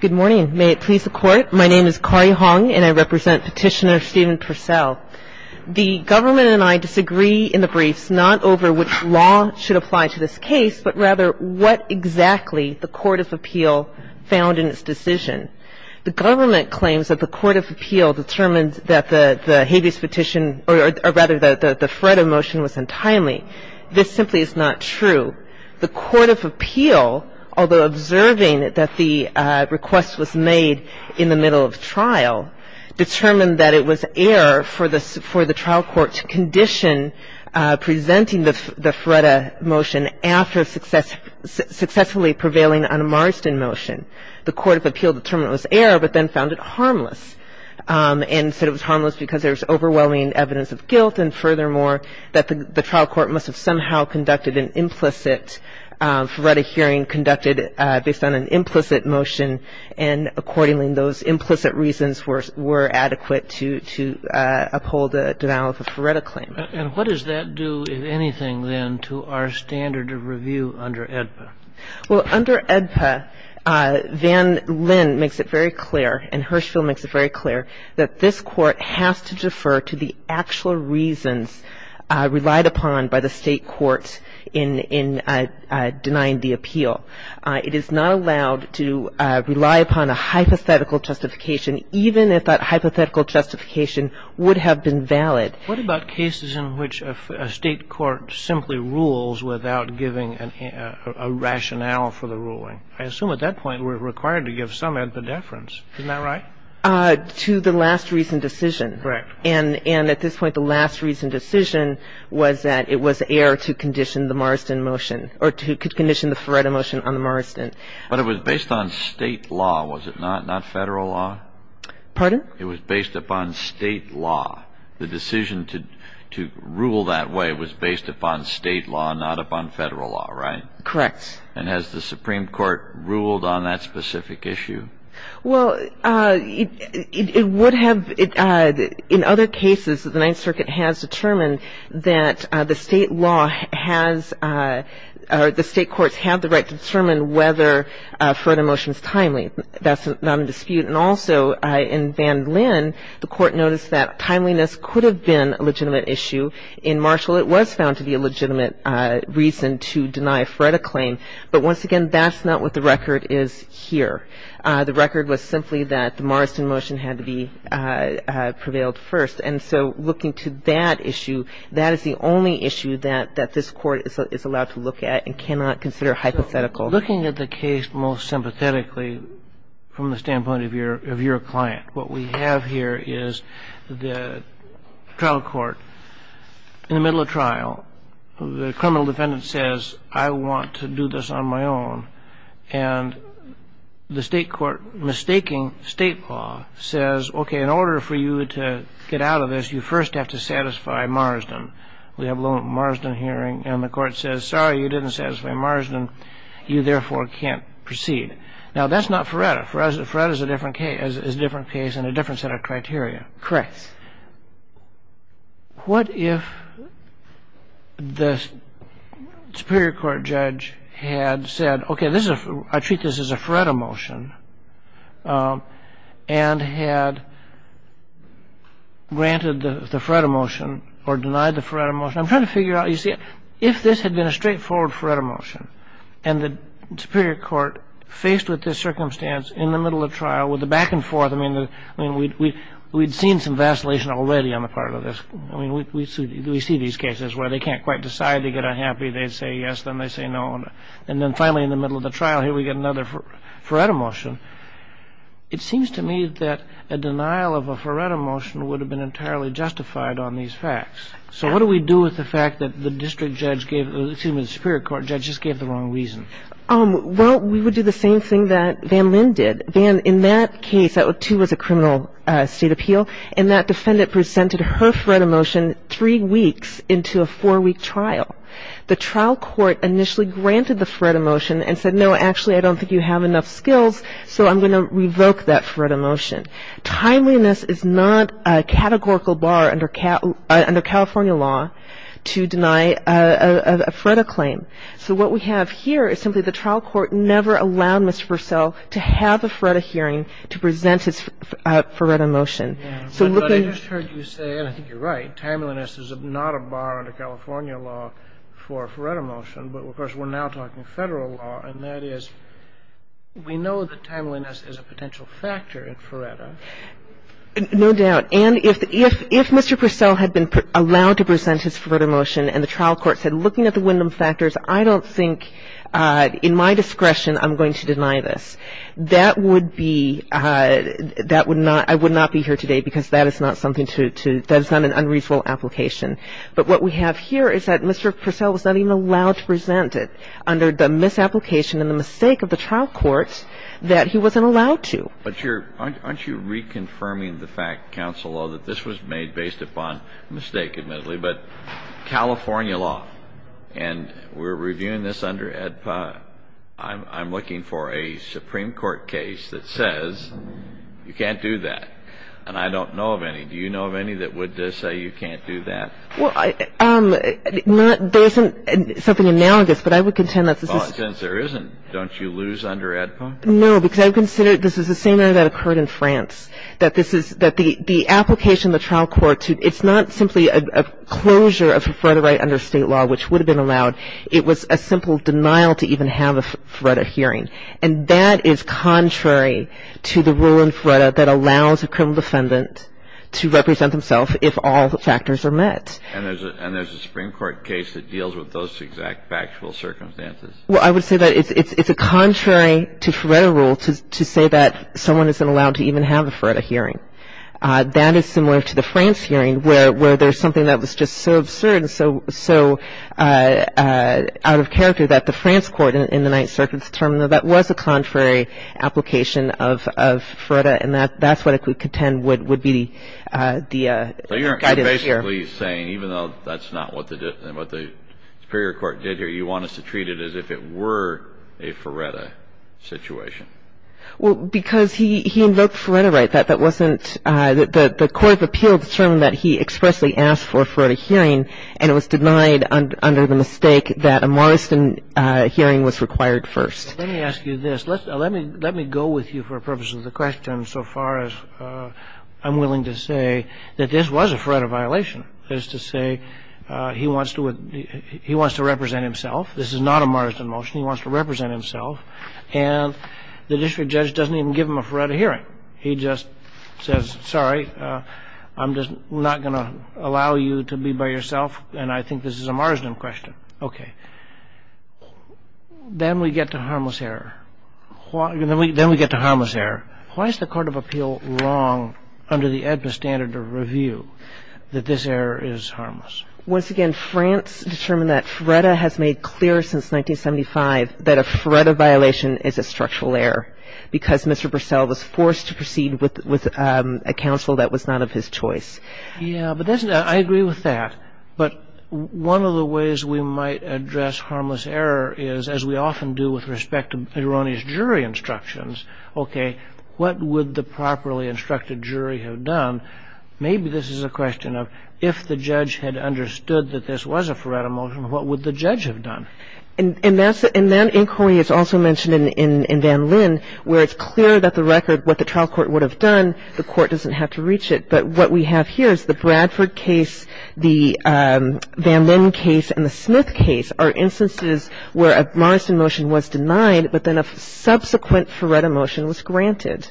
Good morning. May it please the Court, my name is Kari Hong and I represent Petitioner Stephen Percelle. The government and I disagree in the briefs not over which law should apply to this case, but rather what exactly the Court of Appeal found in its decision. The government claims that the Court of Appeal determined that the habeas petition, or rather the FREDA motion was untimely. This simply is not true. The Court of Appeal, although observing that the request was made in the middle of trial, determined that it was error for the trial court to condition presenting the FREDA motion after successfully prevailing on a Marsden motion. The Court of Appeal determined it was error, but then found it harmless. And said it was harmless because there was overwhelming evidence of guilt, and furthermore, that the trial court must have somehow conducted an implicit FREDA hearing, conducted based on an implicit motion, and accordingly those implicit reasons were adequate to uphold the denial of a FREDA claim. And what does that do, if anything, then, to our standard of review under AEDPA? Well, under AEDPA, Van Lin makes it very clear, and Hirschfeld makes it very clear, that this Court has to defer to the actual reasons relied upon by the state courts in denying the appeal. It is not allowed to rely upon a hypothetical justification, even if that hypothetical justification would have been valid. What about cases in which a state court simply rules without giving a rationale for the ruling? I assume at that point we're required to give some ambideference, isn't that right? To the last reason decision. Correct. And at this point, the last reason decision was that it was error to condition the Marsden motion, or to condition the FREDA motion on the Marsden. But it was based on state law, was it not, not Federal law? Pardon? It was based upon state law. The decision to rule that way was based upon state law, not upon Federal law, right? Correct. And has the Supreme Court ruled on that specific issue? Well, it would have. In other cases, the Ninth Circuit has determined that the state law has, or the state courts have the right to determine whether a FREDA motion is timely. That's not a dispute. And also, in Van Linn, the Court noticed that timeliness could have been a legitimate issue. In Marshall, it was found to be a legitimate reason to deny a FREDA claim. But once again, that's not what the record is here. The record was simply that the Marsden motion had to be prevailed first. And so looking to that issue, that is the only issue that this Court is allowed to look at and cannot consider hypothetical. Looking at the case most sympathetically from the standpoint of your client, what we have here is the trial court in the middle of trial. The criminal defendant says, I want to do this on my own. And the state court, mistaking state law, says, okay, in order for you to get out of this, you first have to satisfy Marsden. We have a little Marsden hearing, and the Court says, sorry, you didn't satisfy Marsden. You, therefore, can't proceed. Now, that's not FREDA. FREDA is a different case and a different set of criteria. Correct. What if the Superior Court judge had said, okay, I treat this as a FREDA motion and had granted the FREDA motion or denied the FREDA motion? I'm trying to figure out, you see, if this had been a straightforward FREDA motion and the Superior Court faced with this circumstance in the middle of trial with the back and forth, I mean, we'd seen some vacillation already on the part of this. I mean, we see these cases where they can't quite decide. They get unhappy. They say yes. Then they say no. And then finally, in the middle of the trial, here we get another FREDA motion. It seems to me that a denial of a FREDA motion would have been entirely justified on these facts. So what do we do with the fact that the district judge gave the Superior Court judge just gave the wrong reason? Well, we would do the same thing that Van Lin did. Van, in that case, that, too, was a criminal state appeal, and that defendant presented her FREDA motion three weeks into a four-week trial. The trial court initially granted the FREDA motion and said, no, actually, I don't think you have enough skills, so I'm going to revoke that FREDA motion. Timeliness is not a categorical bar under California law to deny a FREDA claim. So what we have here is simply the trial court never allowed Mr. Purcell to have a FREDA hearing to present his FREDA motion. So looking at the ---- But I just heard you say, and I think you're right, timeliness is not a bar under California law for a FREDA motion. But, of course, we're now talking Federal law, and that is we know that timeliness is a potential factor in FREDA. No doubt. And if Mr. Purcell had been allowed to present his FREDA motion and the trial court said, looking at the Wyndham factors, I don't think, in my discretion, I'm going to deny this, that would be ---- that would not ---- I would not be here today because that is not something to ---- that is not an unreasonable application. But what we have here is that Mr. Purcell was not even allowed to present it under the misapplication and the mistake of the trial court that he wasn't allowed to. But you're ---- aren't you reconfirming the fact, counsel, though, that this was made based upon mistake, admittedly, but California law, and we're reviewing this under EDPA. I'm looking for a Supreme Court case that says you can't do that, and I don't know of any. Do you know of any that would say you can't do that? Well, I ---- there isn't something analogous, but I would contend that this is ---- Well, since there isn't, don't you lose under EDPA? No, because I consider this is the same area that occurred in France, that this is ---- that the application of the trial court to ---- it's not simply a closure of a FREDA right under State law, which would have been allowed. It was a simple denial to even have a FREDA hearing. And that is contrary to the rule in FREDA that allows a criminal defendant to represent himself if all factors are met. And there's a Supreme Court case that deals with those exact factual circumstances? Well, I would say that it's a contrary to FREDA rule to say that someone isn't allowed to even have a FREDA hearing. That is similar to the France hearing where there's something that was just so absurd and so out of character that the France court in the Ninth Circuit determined that that was a contrary application of FREDA and that that's what I could contend would be the ---- So you're basically saying even though that's not what the Superior Court did here, you want us to treat it as if it were a FREDA situation? Well, because he invoked the FREDA right. That wasn't ---- the court of appeal determined that he expressly asked for a FREDA hearing and it was denied under the mistake that a Morrison hearing was required first. Let me ask you this. Let me go with you for purposes of the question so far as I'm willing to say that this was a FREDA violation, that is to say he wants to represent himself. This is not a Morrison motion. He wants to represent himself. And the district judge doesn't even give him a FREDA hearing. He just says, sorry, I'm just not going to allow you to be by yourself. And I think this is a Marsden question. Okay. Then we get to harmless error. Then we get to harmless error. Why is the court of appeal wrong under the AEDPA standard of review that this error is harmless? Once again, France determined that FREDA has made clear since 1975 that a FREDA violation is a structural error because Mr. Purcell was forced to proceed with a counsel that was not of his choice. Yeah. But I agree with that. But one of the ways we might address harmless error is, as we often do with respect to Erroni's jury instructions, okay, what would the properly instructed jury have done? Maybe this is a question of if the judge had understood that this was a FREDA motion, what would the judge have done? And that inquiry is also mentioned in Van Linn where it's clear that the record, what the trial court would have done, the court doesn't have to reach it. But what we have here is the Bradford case, the Van Linn case, and the Smith case are instances where a Marsden motion was denied, but then a subsequent FREDA motion was granted.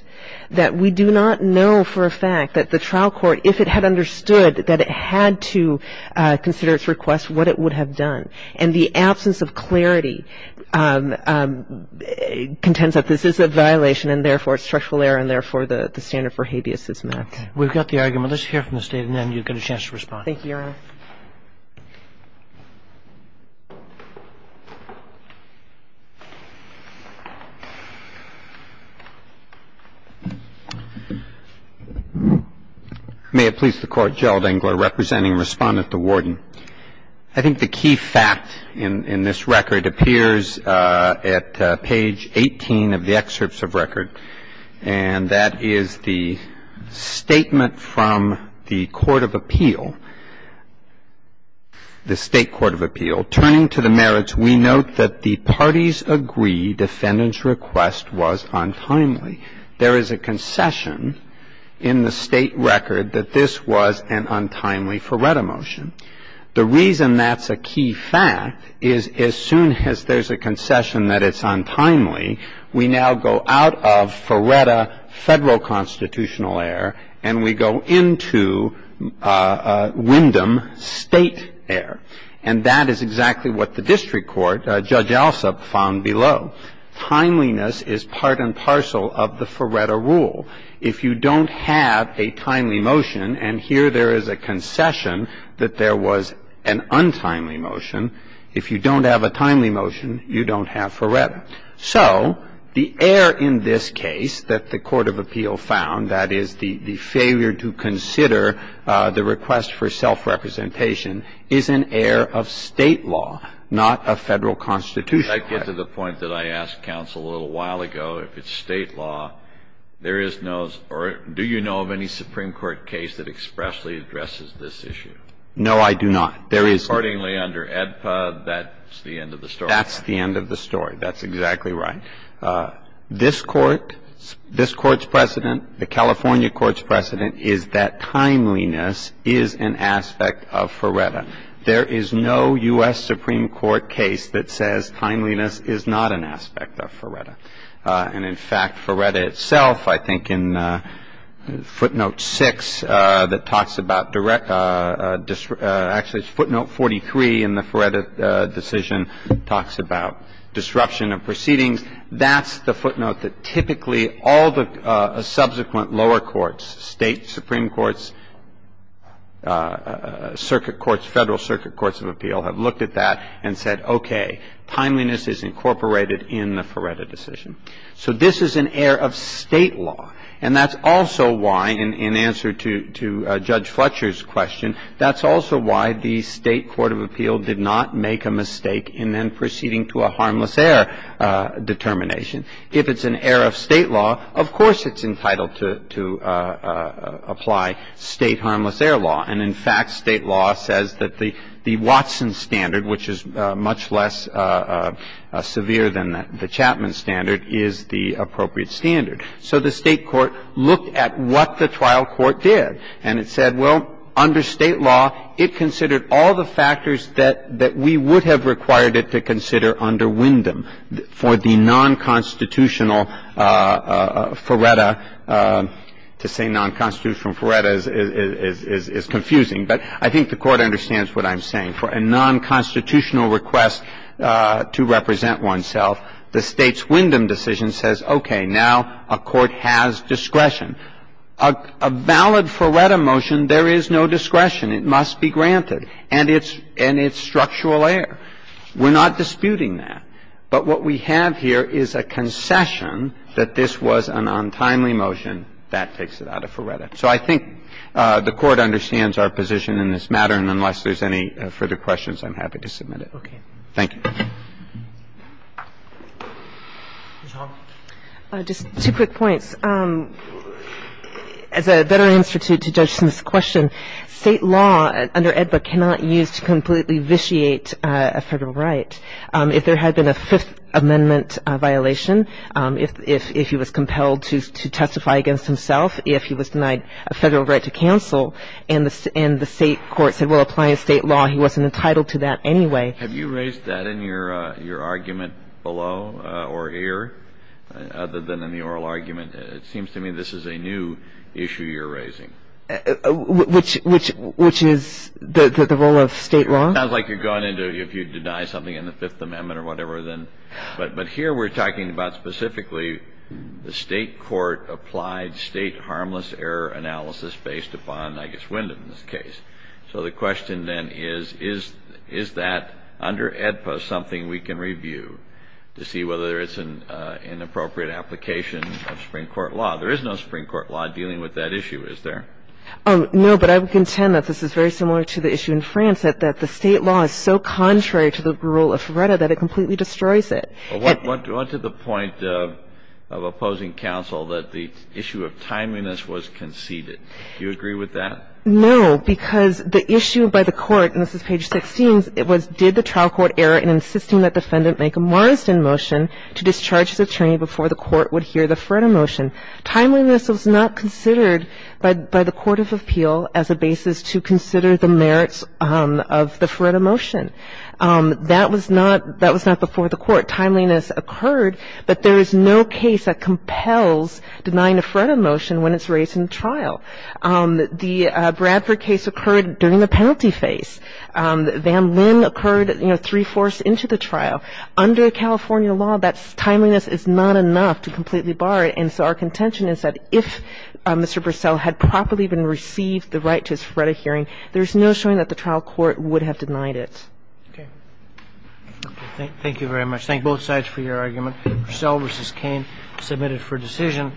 That we do not know for a fact that the trial court, if it had understood that it had to consider its request, what it would have done. And the absence of clarity contends that this is a violation and, therefore, it's structural error and, therefore, the standard for habeas is met. Okay. We've got the argument. Let's hear from the State and then you'll get a chance to respond. Thank you, Your Honor. May it please the Court, Gerald Engler representing Respondent to Warden. I think the key fact in this record appears at page 18 of the excerpts of record, and that is the statement from the court of appeal, the State court of appeal. Turning to the merits, we note that the parties agree defendant's request was untimely. There is a concession in the State record that this was an untimely FREDA motion. The reason that's a key fact is as soon as there's a concession that it's untimely, we now go out of FREDA Federal constitutional error and we go into Wyndham State error. And that is exactly what the district court, Judge Alsop, found below. Timeliness is part and parcel of the FREDA rule. If you don't have a timely motion and here there is a concession that there was an untimely motion, if you don't have a timely motion, you don't have FREDA. So the error in this case that the court of appeal found, that is, the failure to consider the request for self-representation, is an error of State law, not a Federal constitutional error. I'm going to go back to the point that I asked counsel a little while ago. If it's State law, there is no or do you know of any Supreme Court case that expressly addresses this issue? No, I do not. There is no. Accordingly, under AEDPA, that's the end of the story. That's the end of the story. That's exactly right. This Court, this Court's precedent, the California Court's precedent is that timeliness is an aspect of FREDA. There is no U.S. Supreme Court case that says timeliness is not an aspect of FREDA. And, in fact, FREDA itself, I think in footnote 6 that talks about direct – actually it's footnote 43 in the FREDA decision talks about disruption of proceedings. That's the footnote that typically all the subsequent lower courts, State Supreme Court's, circuit courts, Federal circuit courts of appeal have looked at that and said, okay, timeliness is incorporated in the FREDA decision. So this is an error of State law. And that's also why, in answer to Judge Fletcher's question, that's also why the State court of appeal did not make a mistake in then proceeding to a harmless error determination. If it's an error of State law, of course it's entitled to apply State harmless error law. And, in fact, State law says that the Watson standard, which is much less severe than the Chapman standard, is the appropriate standard. So the State court looked at what the trial court did, and it said, well, under State law, it considered all the factors that we would have required it to consider under Wyndham. For the nonconstitutional FREDA, to say nonconstitutional FREDA is confusing. But I think the Court understands what I'm saying. For a nonconstitutional request to represent oneself, the State's Wyndham decision says, okay, now a court has discretion. A valid FREDA motion, there is no discretion. It must be granted. And it's structural error. We're not disputing that. But what we have here is a concession that this was an untimely motion. That takes it out of FREDA. So I think the Court understands our position in this matter. And unless there's any further questions, I'm happy to submit it. Thank you. Ms. Hall. Just two quick points. As a better answer to Judge Smith's question, State law under AEDBA cannot use to completely vitiate a Federal right. If there had been a Fifth Amendment violation, if he was compelled to testify against himself, if he was denied a Federal right to counsel and the State court said, well, apply a State law, he wasn't entitled to that anyway. Have you raised that in your argument below or here, other than in the oral argument? It seems to me this is a new issue you're raising. Which is the role of State law? It sounds like you're going into if you deny something in the Fifth Amendment or whatever. But here we're talking about specifically the State court applied State harmless error analysis based upon, I guess, Wyndham's case. So the question then is, is that under AEDBA something we can review to see whether it's an inappropriate application of Supreme Court law? There is no Supreme Court law dealing with that issue, is there? No, but I would contend that this is very similar to the issue in France, that the State law is so contrary to the rule of FREDA that it completely destroys it. Well, what to the point of opposing counsel that the issue of timeliness was conceded. Do you agree with that? No, because the issue by the court, and this is page 16, it was did the trial court err in insisting that defendant make a Morriston motion to discharge his attorney before the court would hear the FREDA motion. Timeliness was not considered by the court of appeal as a basis to consider the merits of the FREDA motion. That was not before the court. Timeliness occurred, but there is no case that compels denying a FREDA motion when it's raised in trial. The Bradford case occurred during the penalty phase. Van Linn occurred, you know, three-fourths into the trial. Under California law, that timeliness is not enough to completely bar it. And so our contention is that if Mr. Bursell had properly been received the right to his FREDA hearing, there's no showing that the trial court would have denied it. Okay. Thank you very much. Thank both sides for your argument. Bursell v. Cain submitted for decision.